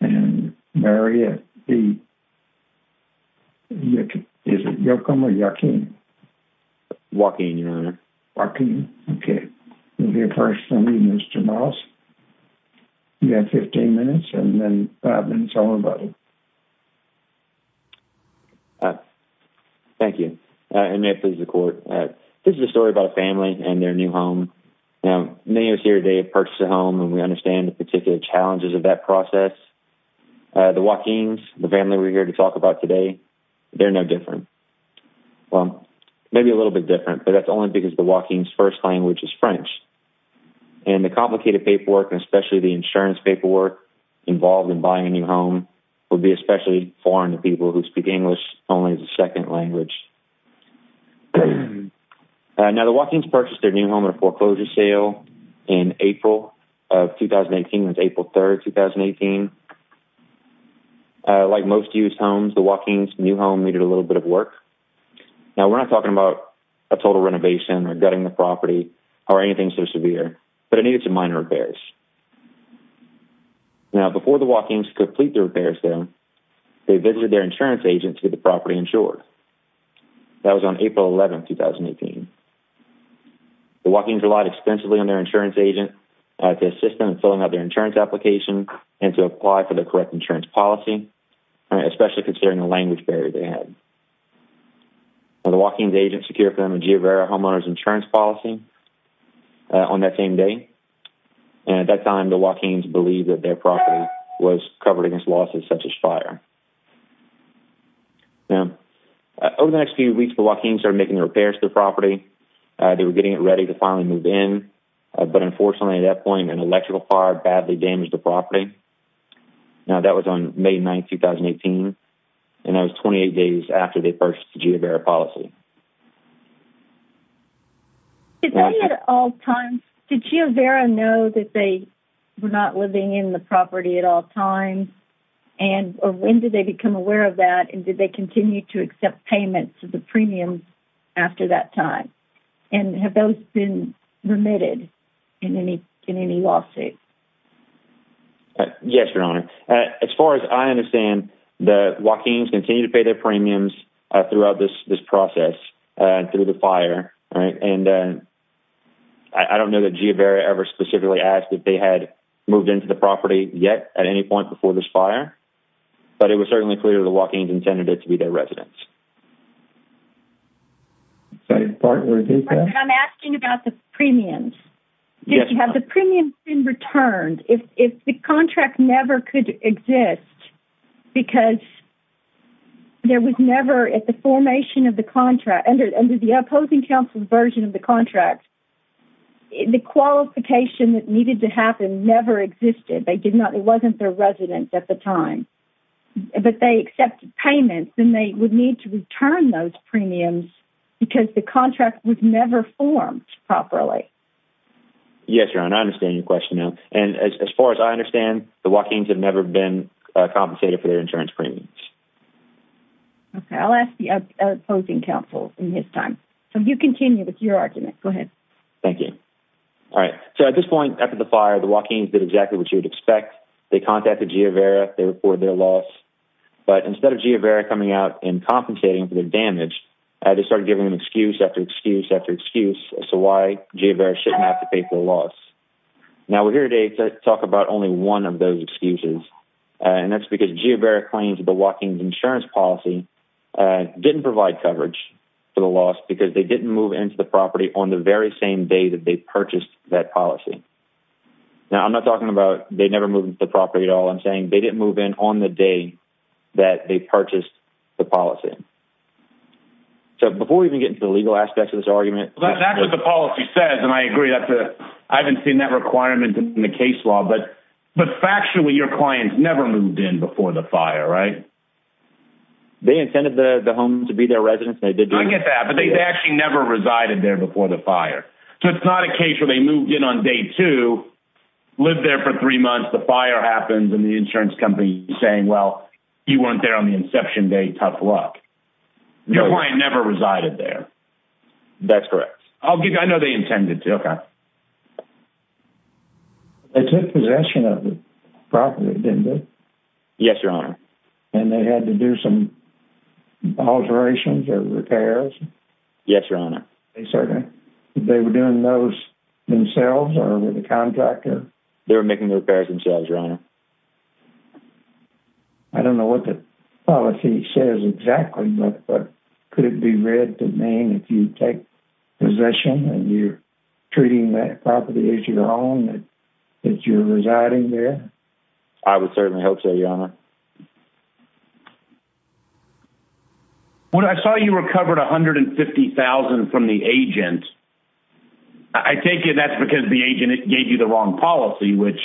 and Mariette B. Joachin, okay. We'll hear first from Mr. Moss. You have 15 minutes and then tell everybody. Thank you. And may it please the court. This is a story about a family and their new home. Now, many of us here today have purchased a home and we understand the particular challenges of that process. The Joachins, the family we're here to talk about today, they're no different. Well, maybe a little bit different, but that's only because the Joachins' first language is French. And the complicated paperwork, and especially the insurance paperwork involved in buying a new home would be especially foreign to people who speak English only as a second language. Now, the Joachins purchased their new home at a foreclosure sale in April of 2018. It was April 3rd, 2018. Like most used homes, the Joachins' new home needed a little bit of work. Now, we're not talking about a total renovation or gutting the property or anything so severe, but it needed some minor repairs. Now, before the Joachins complete their repair sale, they visited their insurance agent to get the property insured. That was on April 11th, 2018. The Joachins relied extensively on their insurance agent to assist them in filling out their insurance application and to apply for the correct insurance policy, especially considering the language barrier they had. The Joachins' agent secured for them a GeoVera homeowner's insurance policy on that same day. And at that time, the Joachins believed that their property was covered against losses such as fire. Now, over the next few weeks, the Joachins started making the repairs to the property. They were getting it ready to finally move in. But unfortunately, at that point, an electrical fire badly damaged the property. Now, that was on May 9th, 2018. And that was that they were not living in the property at all times, or when did they become aware of that, and did they continue to accept payments of the premiums after that time? And have those been remitted in any lawsuit? Yes, Your Honor. As far as I understand, the Joachins continue to pay their premiums throughout this process through the fire, right? And I don't know that GeoVera ever specifically asked if they had moved into the property yet at any point before this fire, but it was certainly clear the Joachins intended it to be their residence. I'm asking about the premiums. Have the premiums been returned? If the contract never could exist, because there was never, at the formation of the contract, under the opposing counsel's version of the contract, the qualification that needed to happen never existed. They did not, it wasn't their residence at the time. But they accepted payments, and they would need to return those premiums because the contract was never formed properly. Yes, Your Honor, I understand your compensation for their insurance premiums. Okay, I'll ask the opposing counsel in his time. So, you continue with your argument. Go ahead. Thank you. All right. So, at this point after the fire, the Joachins did exactly what you would expect. They contacted GeoVera. They reported their loss. But instead of GeoVera coming out and compensating for their damage, they started giving them excuse after excuse after excuse as to why GeoVera shouldn't have to pay for the loss. Now, we're here today to talk about only one of those excuses, and that's because GeoVera claims that the Joachins insurance policy didn't provide coverage for the loss because they didn't move into the property on the very same day that they purchased that policy. Now, I'm not talking about they never moved into the property at all. I'm saying they didn't move in on the day that they purchased the policy. So, before we even get into the legal aspects of this argument... The case law, but factually your clients never moved in before the fire, right? They intended the home to be their residence. I get that, but they actually never resided there before the fire. So, it's not a case where they moved in on day two, lived there for three months, the fire happens, and the insurance company is saying, well, you weren't there on the inception date. Tough luck. Your client never resided there. That's correct. I'll get... I know they intended to. Okay. They took possession of the property, didn't they? Yes, your honor. And they had to do some alterations or repairs? Yes, your honor. They certainly... They were doing those themselves or with a contractor? They were making the repairs themselves, your honor. I don't know what the policy says exactly, but could it be read to mean if you take possession and you're treating that property as your own, that you're residing there? I would certainly hope so, your honor. When I saw you recovered $150,000 from the agent, I take it that's because the agent gave you the wrong policy, which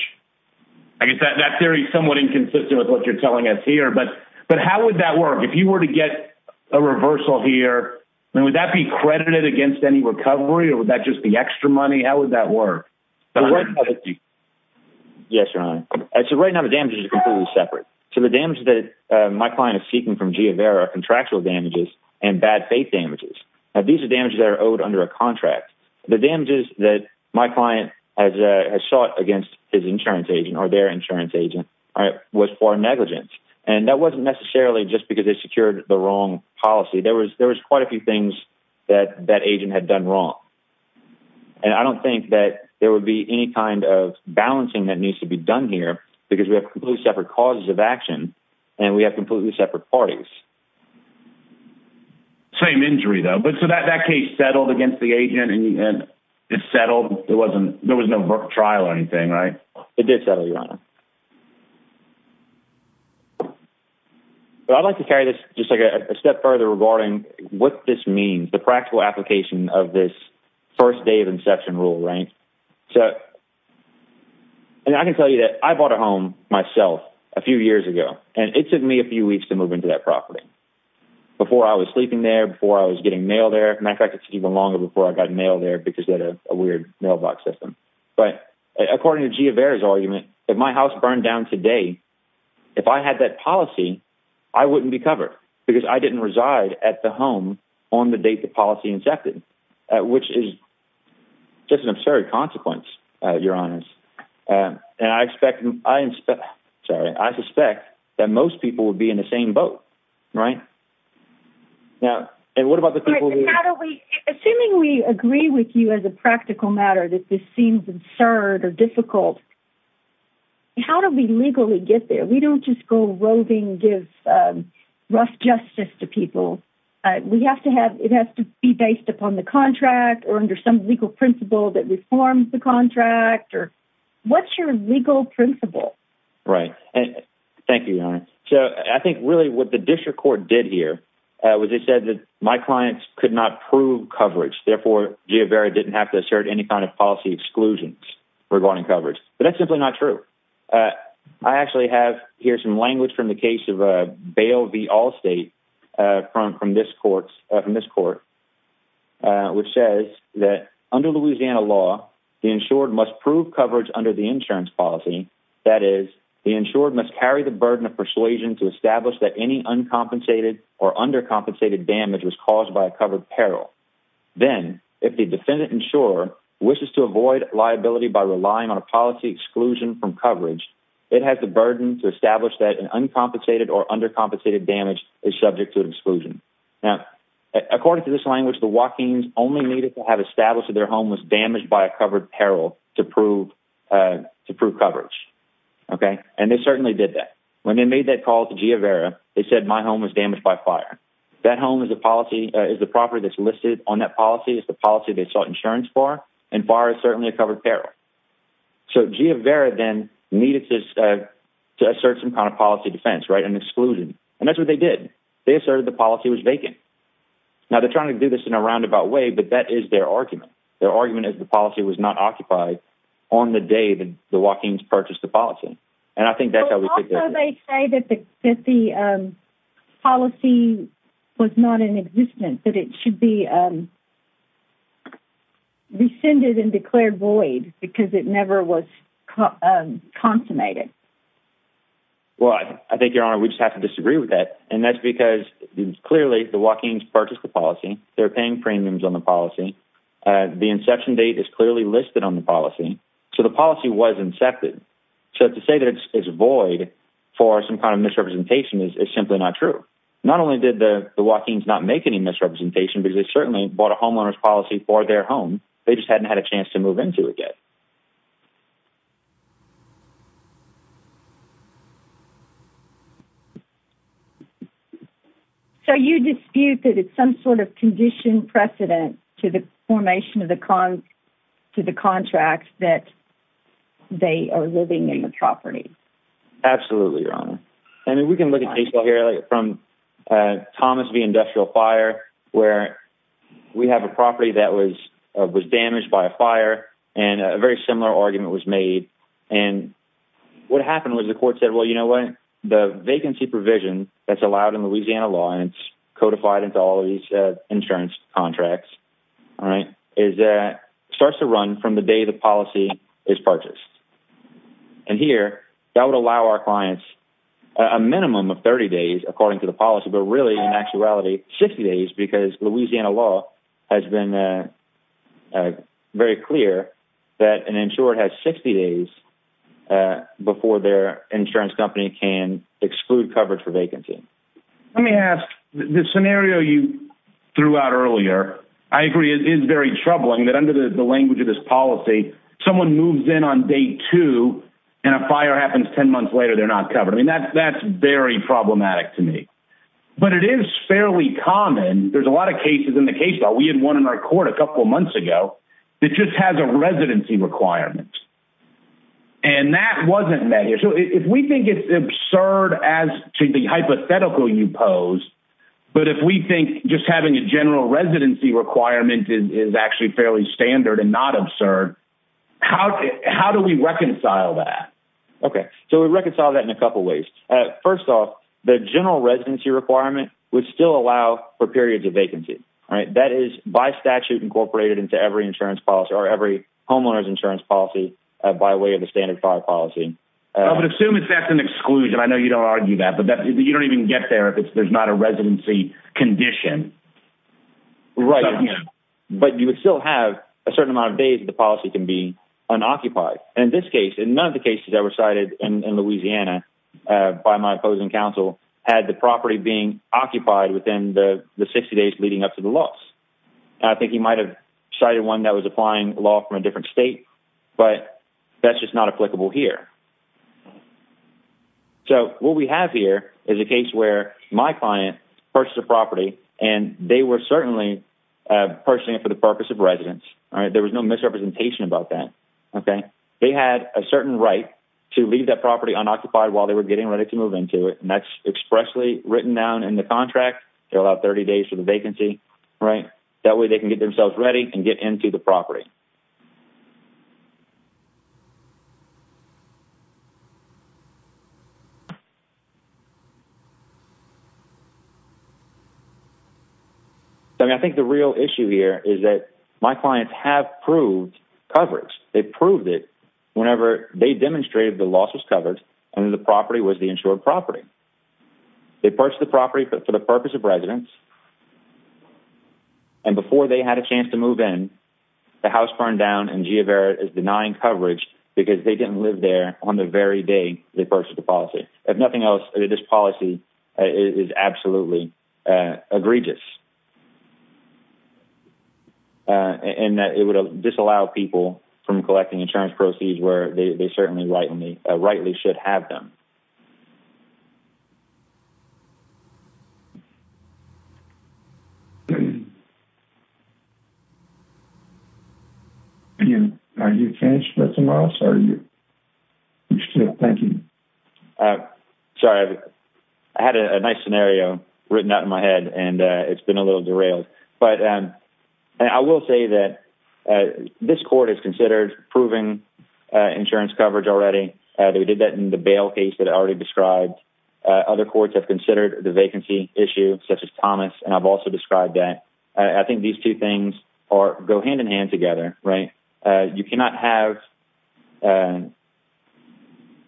I guess that theory is somewhat inconsistent with what you're telling us here. But how would that work? If you were to get a reversal here, would that be credited against any recovery or would that just be extra money? How would that work? Yes, your honor. So right now, the damages are completely separate. So the damage that my client is seeking from G of Air are contractual damages and bad faith damages. These are damages that are owed under a contract. The damages that my client has sought against his insurance agent or their insurance agent was for negligence. And that wasn't necessarily just because they secured the wrong policy. There was quite a few things that that agent had done wrong. And I don't think that there would be any kind of balancing that needs to be done here because we have completely separate causes of action and we have completely separate parties. Same injury though. But so that case settled against the agent and it settled. There was no trial or anything, right? It did settle, your honor. But I'd like to carry this just like a step further regarding what this means, the practical application of this first day of inception rule, right? So and I can tell you that I bought a home myself a few years ago and it took me a few weeks to move into that property. Before I was sleeping there, before I was getting mail there. In fact, it's even longer before I got mail there because they had a weird mailbox system. But according to Gia Bear's argument, if my house burned down today, if I had that policy, I wouldn't be covered because I didn't reside at the home on the date the policy incepted, which is just an absurd consequence, your honors. And I expect, I'm sorry, I suspect that most people would be in the same boat, right? Now, and what about the people? Assuming we agree with you as a practical matter that this seems absurd or difficult, how do we legally get there? We don't just go roving, give rough justice to people. We have to have, it has to be based upon the contract or under some legal principle that reforms the contract or what's your legal principle? Right. Thank you, your honor. So I think really what district court did here was they said that my clients could not prove coverage. Therefore, Gia Bear didn't have to assert any kind of policy exclusions regarding coverage, but that's simply not true. I actually have here some language from the case of a bail v. Allstate from this court, which says that under Louisiana law, the insured must prove coverage under the insurance policy. That is the insured must carry the burden of persuasion to or under compensated damage was caused by a covered peril. Then if the defendant insurer wishes to avoid liability by relying on a policy exclusion from coverage, it has the burden to establish that an uncompensated or undercompensated damage is subject to an exclusion. Now, according to this language, the walk-ins only needed to have established that their home was damaged by a covered peril to prove, uh, to prove coverage. Okay. And they certainly did that when they made that call to Gia Vera, they said my home was damaged by fire. That home is a policy is the property that's listed on that policy is the policy they sought insurance for. And far as certainly a covered peril. So Gia Vera then needed to, uh, to assert some kind of policy defense, right? An exclusion. And that's what they did. They asserted the policy was vacant. Now they're trying to do this in a roundabout way, but that is their argument. Their argument is the policy was not occupied on the day that walk-ins purchased the policy. And I think that's how they say that the, that the, um, policy was not in existence, that it should be, um, rescinded and declared void because it never was, um, consummated. Well, I think your honor, we just have to disagree with that. And that's because clearly the walk-ins purchased the policy. They're paying premiums on the policy. Uh, inception date is clearly listed on the policy. So the policy was incepted. So to say that it's void for some kind of misrepresentation is simply not true. Not only did the walk-ins not make any misrepresentation, but they certainly bought a homeowner's policy for their home. They just hadn't had a chance to move into it yet. So you dispute that it's some sort of condition precedent to the formation of the con to the contract that they are living in the property. Absolutely. Your honor. I mean, we can look at cases here from, uh, Thomas V industrial fire, where we have a property that was, uh, was damaged by a fire and a very similar argument was made. And what happened was the court said, well, you know what the vacancy provision that's allowed in insurance contracts, right. Is that starts to run from the day the policy is purchased. And here that would allow our clients a minimum of 30 days, according to the policy, but really in actuality, 60 days, because Louisiana law has been, uh, uh, very clear that an insurer has 60 days, uh, before their insurance company can exclude coverage for throughout earlier. I agree. It is very troubling that under the language of this policy, someone moves in on day two and a fire happens 10 months later, they're not covered. I mean, that's, that's very problematic to me, but it is fairly common. There's a lot of cases in the case that we had one in our court a couple of months ago that just has a residency requirements and that wasn't met here. So if we think it's absurd as to the hypothetical you pose, but if we think just having a general residency requirement is actually fairly standard and not absurd, how, how do we reconcile that? Okay. So we reconcile that in a couple of ways. Uh, first off the general residency requirement would still allow for periods of vacancy, right? That is by statute incorporated into every insurance policy or every homeowner's insurance policy, uh, by way of the standard fire policy. But assume it's, that's an exclusion. I know you don't argue that, but that you don't even get there if it's, there's not a residency condition, right? But you would still have a certain amount of days that the policy can be unoccupied. And in this case, in none of the cases that were cited in Louisiana, uh, by my opposing counsel had the property being occupied within the 60 days leading up to the loss. I think he might've cited one that was applying law from a different state, but that's just not applicable here. So what we have here is a case where my client purchased a property and they were certainly, uh, purchasing it for the purpose of residence. All right. There was no misrepresentation about that. Okay. They had a certain right to leave that property unoccupied while they were getting ready to move into it. And that's expressly written down in the contract. They're allowed 30 days for the vacancy, right? That way they can get themselves ready and get into the property. So I mean, I think the real issue here is that my clients have proved coverage. They proved it whenever they demonstrated the loss was covered and the property was the insured property. They purchased the property for the purpose of residence. And before they had a chance to move in the house burned down and G of error is denying coverage because they didn't live there on the very day they purchased the policy. If nothing else, this policy is absolutely, uh, egregious. Uh, and that it would disallow people from collecting insurance proceeds where they certainly right. And they rightly should have them. Um, are you finished with tomorrow? Sorry. Thank you. Uh, sorry. I had a nice scenario written out in my head and, uh, it's been a little derailed, but, um, I will say that, uh, this court has considered proving, uh, insurance coverage already. Uh, they did that in the bail case that already described, uh, other courts have considered the vacancy issue such as Thomas. And I've also described that. Uh, I think these two things are go hand in hand together, right? Uh, you cannot have, uh,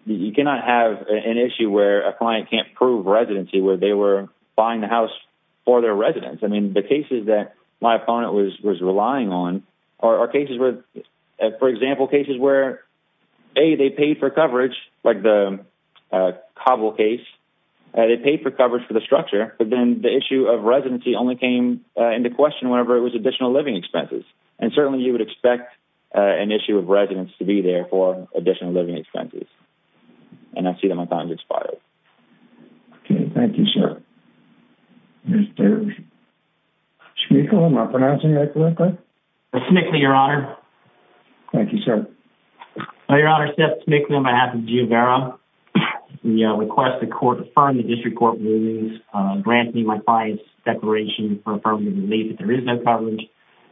you cannot have an issue where a client can't prove residency where they were buying the house for their residents. I mean, the cases that my opponent was, was relying on are cases where, uh, for example, cases where a, they paid for coverage, like the, uh, cobble case, uh, they paid for coverage for the structure, but then the issue of residency only came into question whenever it was additional living expenses. And certainly you would expect, uh, an issue of residents to be there for additional living expenses. And I see that my time has expired. Okay. Thank you, sir. Mr. Schmickle, am I pronouncing that correctly? Mr. Schmickle, your honor. Thank you, sir. Well, your honor, Seth Schmickle on behalf of Juvera, we, uh, request the court to affirm the district court rulings, uh, granting my client's declaration for affirmative relief that there is no coverage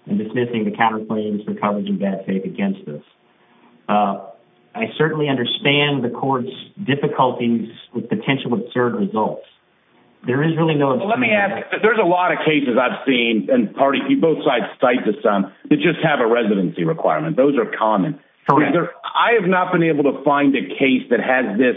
and dismissing the counterclaims for coverage and bad faith against this. Uh, I certainly understand the court's difficulties with potential absurd results. There is really no, let me ask, there's a lot of cases I've seen and parties, you both sides cite to some that just have a residency requirement. Those are common. I have not been able to find a case that has this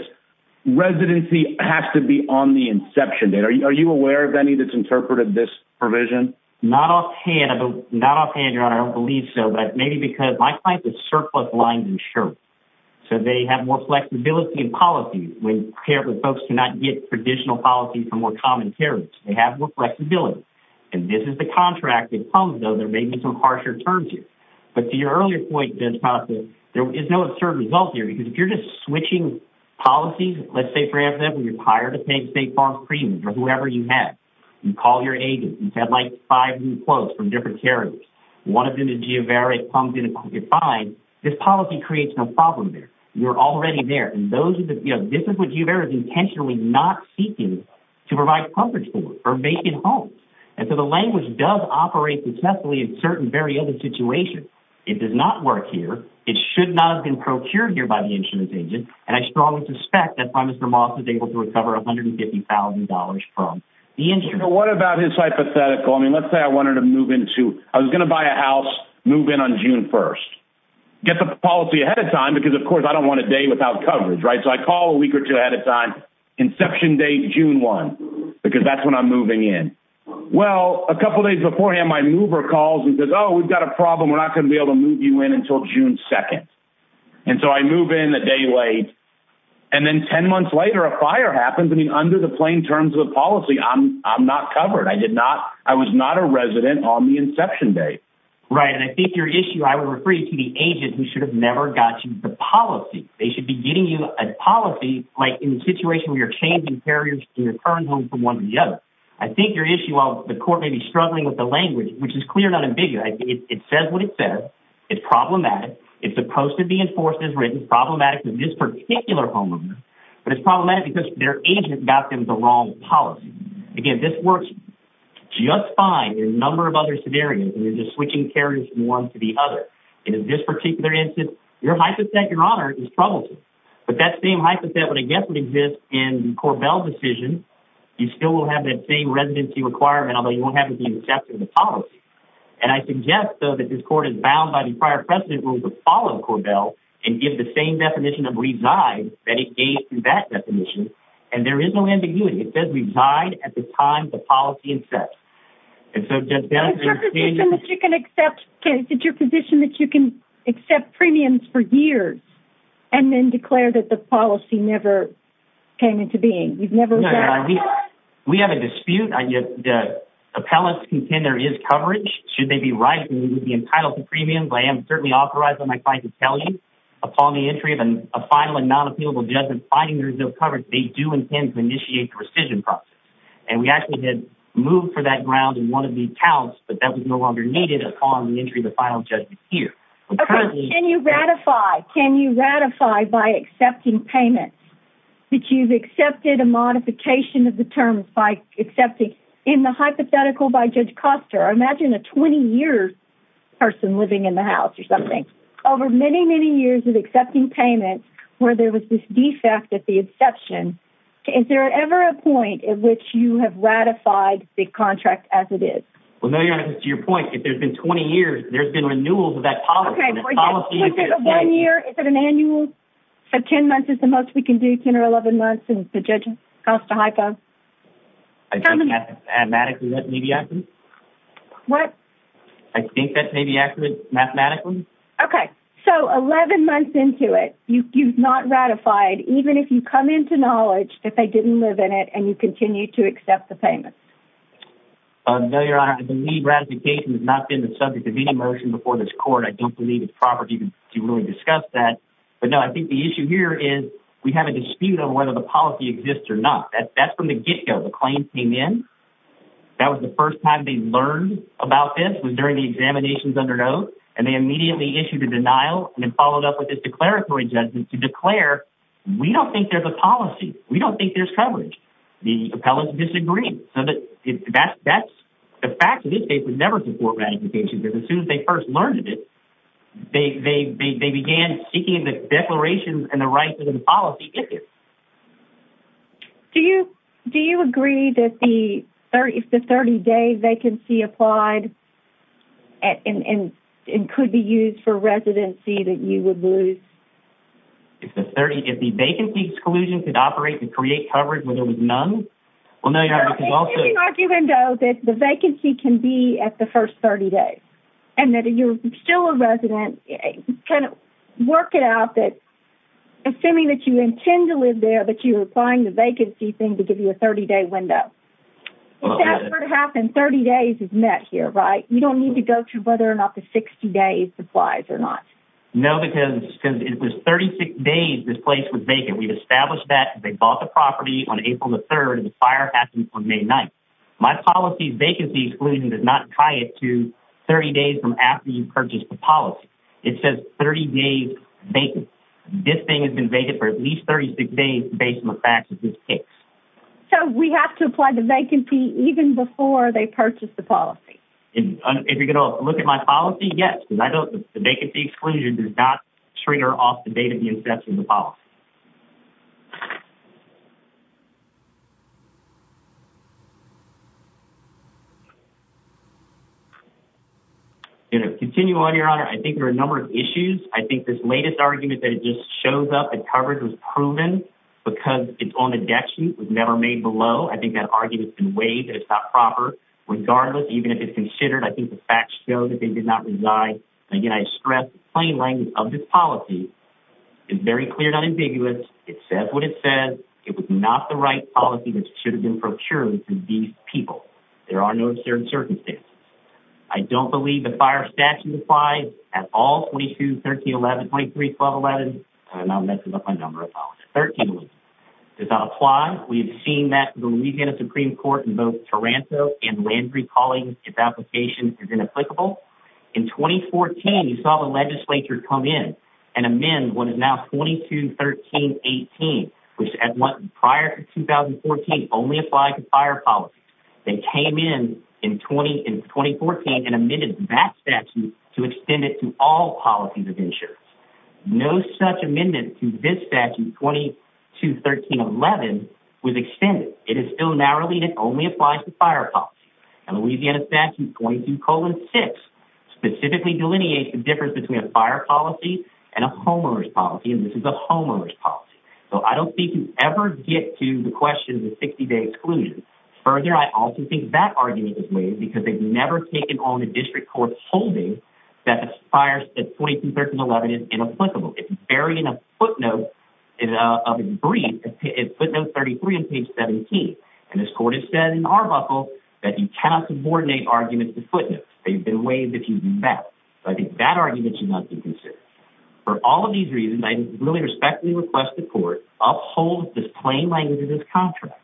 residency has to be on the inception date. Are you, are you aware of any that's interpreted this provision? Not offhand, not offhand, your honor. I don't believe so, but maybe because my client is surplus lines and shirts. So they have more flexibility in policy when paired with folks to not get traditional policy from more common carriers, they have more flexibility. And this is the contract that comes though, there may be some harsher terms here, but to your earlier point, there is no absurd result here because if you're just switching policies, let's say for example, you're hired to pay state farm premiums or whoever you have, you call your agent. You've had like five new quotes from different carriers. One of them is geo-variant pumped in and you could find this policy creates no problem there. You're already there. And those are the, you know, this is what you've ever intentionally not seeking to provide coverage for or make it home. And so the language does operate successfully in certain very other situations. It does not work here. It should not have been procured here by the insurance agent. And I strongly suspect that by Mr. Moss is able to recover $150,000 from the insurance. What about his hypothetical? I mean, let's say I was going to buy a house, move in on June 1st, get the policy ahead of time, because of course, I don't want a day without coverage, right? So I call a week or two ahead of time, inception date, June 1, because that's when I'm moving in. Well, a couple of days beforehand, my mover calls and says, oh, we've got a problem. We're not going to be able to move you in until June 2nd. And so I move in a day late. And then 10 months later, a fire happens. I mean, under the plain terms of the policy, I'm not covered. I was not a resident on the inception date. Right. And I think your issue, I would refer you to the agent who should have never got you the policy. They should be getting you a policy, like in a situation where you're changing carriers in your current home from one to the other. I think your issue, while the court may be struggling with the language, which is clear and unambiguous, it says what it says. It's problematic. It's supposed to be enforced as written, problematic to this particular homeowner, but it's problematic because their agent got them the wrong policy. Again, this works just fine in a number of other scenarios, and you're just switching carriers from one to the other. And in this particular instance, your hypothet, Your Honor, is troublesome. But that same hypothet would again exist in the Korbel decision. You still will have that same residency requirement, although you won't have it be accepted in the policy. And I suggest, though, that this court is bound by the prior precedent rules to follow Korbel and give the same definition of reside that it gave in that definition. And there is no ambiguity. It says reside at the time the policy is set. And so just... Is it your position that you can accept premiums for years and then declare that the policy never came into being? You've never... No, Your Honor, we have a dispute. The appellants contend there is coverage. Should they be right and be entitled to premiums, I am certainly authorized on my side to tell you upon the entry of a final and non-appealable judgment, finding there is no coverage, they do intend to initiate the rescission process. And we actually did move for that ground in one of these counts, but that was no longer needed upon the entry of the final judgment here. Okay. Can you ratify by accepting payments that you've accepted a modification of the terms by accepting... In the hypothetical by Judge Koster, imagine a 20-year person living in the accepting payments where there was this defect at the exception. Is there ever a point at which you have ratified the contract as it is? Well, no, Your Honor, to your point, if there's been 20 years, there's been renewals of that policy. Okay. One year, is it an annual? So 10 months is the most we can do, 10 or 11 months, and Judge Koster, hypo? I think mathematically that may be accurate. What? I think that may be accurate mathematically. Okay. So 11 months into it, you've not ratified even if you come into knowledge that they didn't live in it and you continue to accept the payments? No, Your Honor. I believe ratification has not been the subject of any motion before this court. I don't believe it's proper to really discuss that. But no, I think the issue here is we have a dispute on whether the policy exists or not. That's from the get-go. The claim came in. That was the first time they learned about this was during the examinations under note, and they immediately issued a denial and then followed up with this declaratory judgment to declare, we don't think there's a policy. We don't think there's coverage. The appellants disagreed. So the fact of this case would never support ratification because as soon as they first learned of it, they began seeking the declarations and the rights of the policy. Thank you. Do you agree that if the 30-day vacancy applied and could be used for residency, that you would lose? If the vacancy exclusion could operate and create coverage when there was none? Well, no, Your Honor, because also- So you're arguing though that the vacancy can be at the first 30 days and that you're still a resident. Kind of work it out that, assuming that you intend to live there, but you're applying the vacancy thing to give you a 30-day window. Well- If that were to happen, 30 days is met here, right? You don't need to go through whether or not the 60 days applies or not. No, because it was 36 days this place was vacant. We've established that. They bought the property on April the 3rd and the fire happened on May 9th. My policy vacancy exclusion does not tie it to 30 days from after you purchase the policy. It says 30 days vacant. This thing has been vacant for at least 36 days, based on the facts of this case. So we have to apply the vacancy even before they purchase the policy? If you're going to look at my policy, yes. The vacancy exclusion does not trigger off the date of the inception of the policy. Okay. Continuing on, Your Honor, I think there are a number of issues. I think this latest argument that it just shows up and covered was proven because it's on the debt sheet. It was never made below. I think that argument's been waived and it's not proper. Regardless, even if it's considered, I think the facts show that they did not reside. Again, I stress the of this policy is very clear and unambiguous. It says what it says. It was not the right policy that should have been procured for these people. There are no certain circumstances. I don't believe the fire statute applies at all 22, 13, 11, 23, 12, 11, and I'm messing up my number. Does that apply? We've seen that the Louisiana Supreme Court in both Taranto and Landry calling its application is inapplicable. In 2014, you saw the legislature come in and amend what is now 22, 13, 18, which prior to 2014 only applied to fire policies. They came in 2014 and amended that statute to extend it to all policies of insurance. No such amendment to this statute, 22, 13, 11, was extended. It is still narrowly and it only applies to fire policies. And Louisiana statute 22, 6 specifically delineates the difference between a fire policy and a homeowner's policy, and this is a homeowner's policy. So I don't think you ever get to the question of the 60-day exclusion. Further, I also think that argument is waived because they've never taken on the district court's holding that the fire statute 22, 13, 11 is inapplicable. It's very in a footnote of a brief. It's footnote 33 on page 17. And this court has said in Arbuckle that you cannot subordinate arguments to footnotes. They've been waived if you do that. So I think that argument should not be considered. For all of these reasons, I really respectfully request the court uphold this plain language of this contract.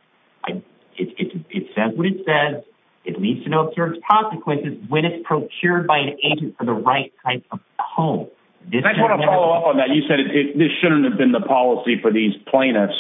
It says what it says. It needs to know if there's consequences when it's procured by an agent for the right type of home. I just want to follow up on that. You shouldn't have been the policy for these plaintiffs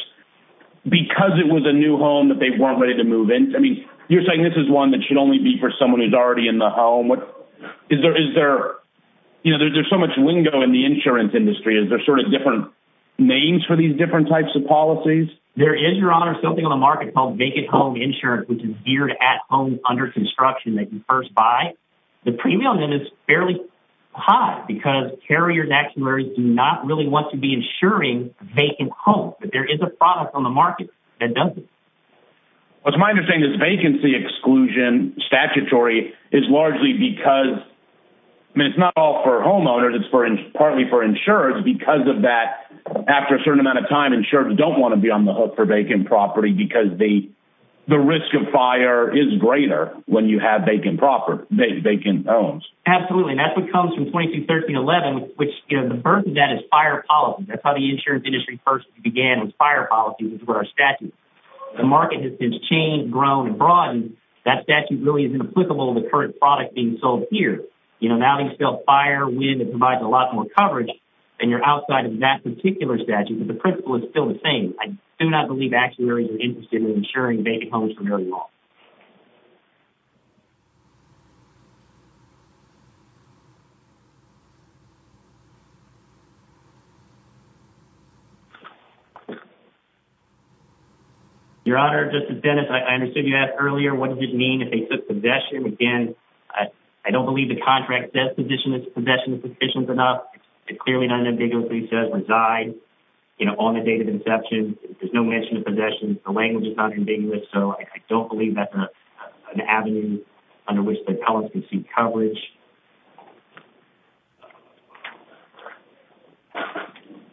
because it was a new home that they weren't ready to move in. I mean, you're saying this is one that should only be for someone who's already in the home. There's so much lingo in the insurance industry. Is there sort of different names for these different types of policies? There is, Your Honor, something on the market called vacant home insurance, which is geared at homes under construction that you first buy. The premium on that is fairly high because carriers, actuaries do not really want to be insuring vacant homes. But there is a product on the market that does it. What's my understanding is vacancy exclusion statutory is largely because, I mean, it's not all for homeowners. It's partly for insurers because of that, after a certain amount of time, insurers don't want to be on the hook for vacant property because the risk of fire is greater when you have vacant property, vacant homes. Absolutely. And that's what comes from 221311, which the burden of that is fire policy. That's how the insurance industry first began, was fire policy, which is where our statute. The market has changed, grown, and broadened. That statute really isn't applicable to the current product being sold here. Now they sell fire, wind, and provide a lot more coverage than you're outside of that particular statute. But the principle is still the same. I do not believe actuaries are interested in insuring vacant homes for very long. Your Honor, Justice Dennis, I understood you asked earlier, what does it mean if they took possession? Again, I don't believe the contract says possession is sufficient enough. It clearly says reside on the date of inception. There's no mention of possession. The language is not ambiguous, so I don't believe that's an avenue under which the appellants can seek coverage.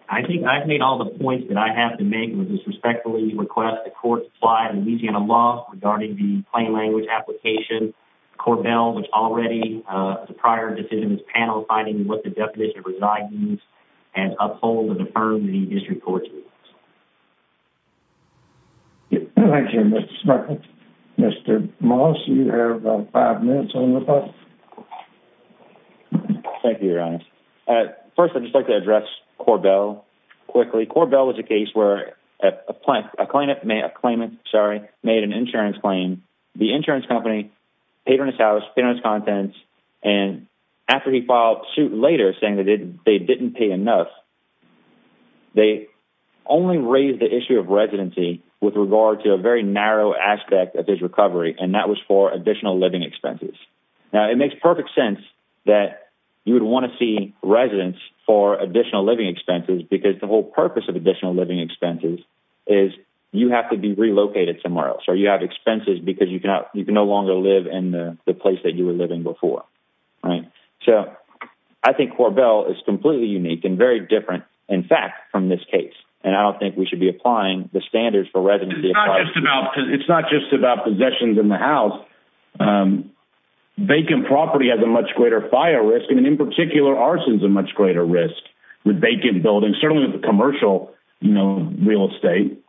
I think I've made all the points that I have to make, which is respectfully request the court supply Louisiana law regarding the plain language application. Corbell, which already, the prior decision is paneled, finding what the definition of reside means, and uphold and affirm the district court's rules. Thank you, Mr. Sperling. Mr. Moss, you have about five minutes on the clock. Thank you, Your Honor. First, I'd just like to address Corbell quickly. Corbell was a case where a claimant made an insurance claim. The insurance company paid on his house, paid on his contents, and after he filed suit later saying that they didn't pay enough, they only raised the issue of residency with regard to a very narrow aspect of his recovery, and that was for additional living expenses. Now, it makes perfect sense that you would want to see residence for additional living expenses because the whole purpose of additional living expenses is you have to be relocated somewhere else, or you have expenses because you can no longer live in the place that you were living before, right? So I think Corbell is completely unique and very different, in fact, from this case, and I don't think we should be applying the standards for residency. It's not just about possessions in the house. Vacant property has a much greater fire risk, and in particular, arson is a much greater risk with vacant buildings, certainly with commercial real estate.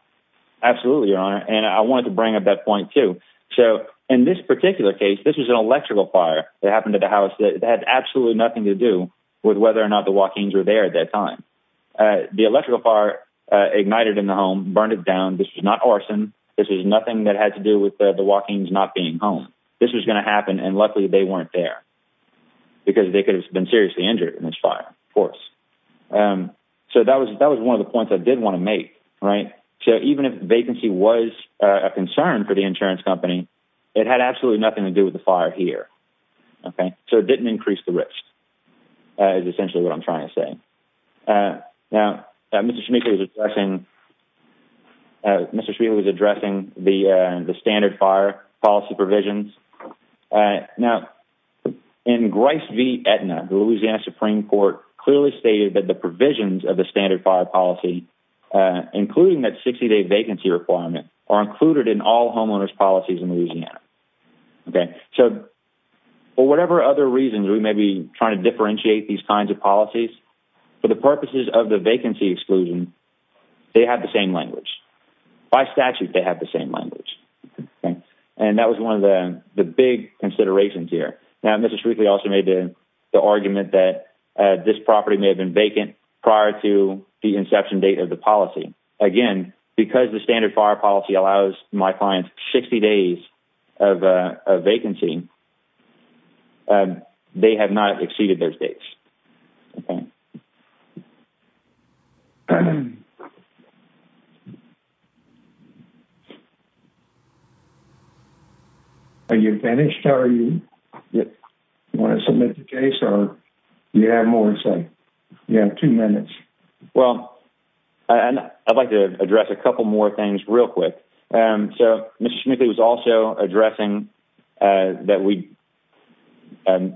Absolutely, Your Honor, and I wanted to bring up that point, too. So in this particular case, this was an electrical fire that happened to the house that had absolutely nothing to do with whether or not the Joaquins were there at that time. The electrical fire ignited in the home, burned it down. This was not arson. This was nothing that had to do with the Joaquins not being home. This was going to happen, and luckily, they weren't there because they could have been seriously injured in this fire, of course. So that was one of the points I did want to make, right? So even if vacancy was a concern for the insurance company, it had absolutely nothing to do with the fire here, okay? So it didn't increase the risk, is essentially what I'm trying to say. Now, Mr. Schmeichel was addressing the standard fire policy provisions. Now, in Grice v. Aetna, the Louisiana Supreme Court clearly stated that the provisions of the standard fire policy, including that 60-day vacancy requirement, are included in all homeowners' policies in Louisiana, okay? So for whatever other reasons we may be trying to differentiate these kinds of policies, for the purposes of the vacancy exclusion, they have the same language. By statute, they have the same language, okay? And that was one of the big considerations here. Now, Mr. Schmeichel also made the argument that this property may have been vacant prior to the inception date of the policy. Again, because the standard fire policy allows my clients 60 days of vacancy, they have not exceeded those dates, okay? Okay. Are you finished? Do you want to submit the case, or do you have more to say? You have two minutes. Well, I'd like to address a couple more things real quick. So Mr. Schmeichel was also addressing that we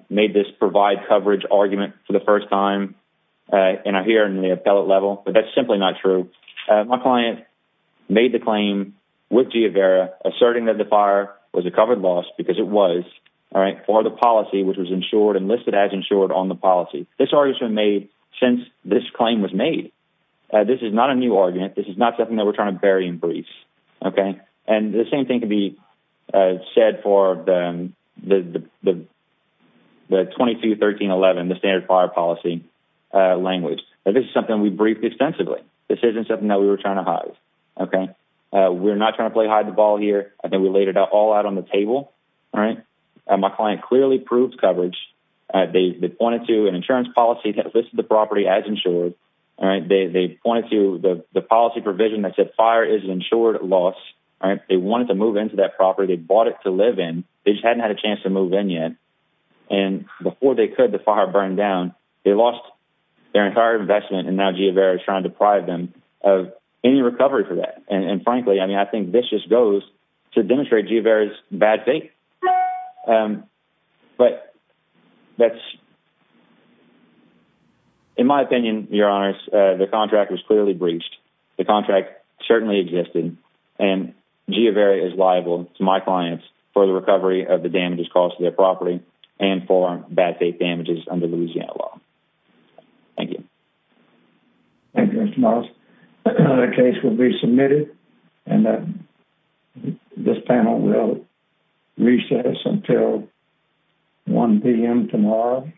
made this provide coverage argument for the first time, and I hear in the appellate level, but that's simply not true. My client made the claim with Giavera asserting that the fire was a covered loss, because it was, all right, for the policy, which was insured and listed as insured on the policy. This argument was made since this claim was made. This is not a new argument. This is not something that we're trying to bury in briefs, and the same thing can be said for the 22-13-11, the standard fire policy language. This is something we briefed extensively. This isn't something that we were trying to hide. We're not trying to play hide the ball here. I think we laid it all out on the table. My client clearly proved coverage. They pointed to an insurance policy that listed the property as insured. They pointed to the policy provision that said fire is an insured loss. They wanted to move into that property. They bought it to live in. They just hadn't had a chance to move in yet, and before they could, the fire burned down. They lost their entire investment, and now Giavera is trying to deprive them of any recovery for that, and frankly, I mean, this just goes to demonstrate Giavera's bad faith, but that's... In my opinion, your honors, the contract was clearly breached. The contract certainly existed, and Giavera is liable to my clients for the recovery of the damages caused to their property and for bad faith damages under Louisiana law. Thank you. Thank you, Mr. Morris. The case will be submitted, and this panel will recess until 1 p.m. tomorrow.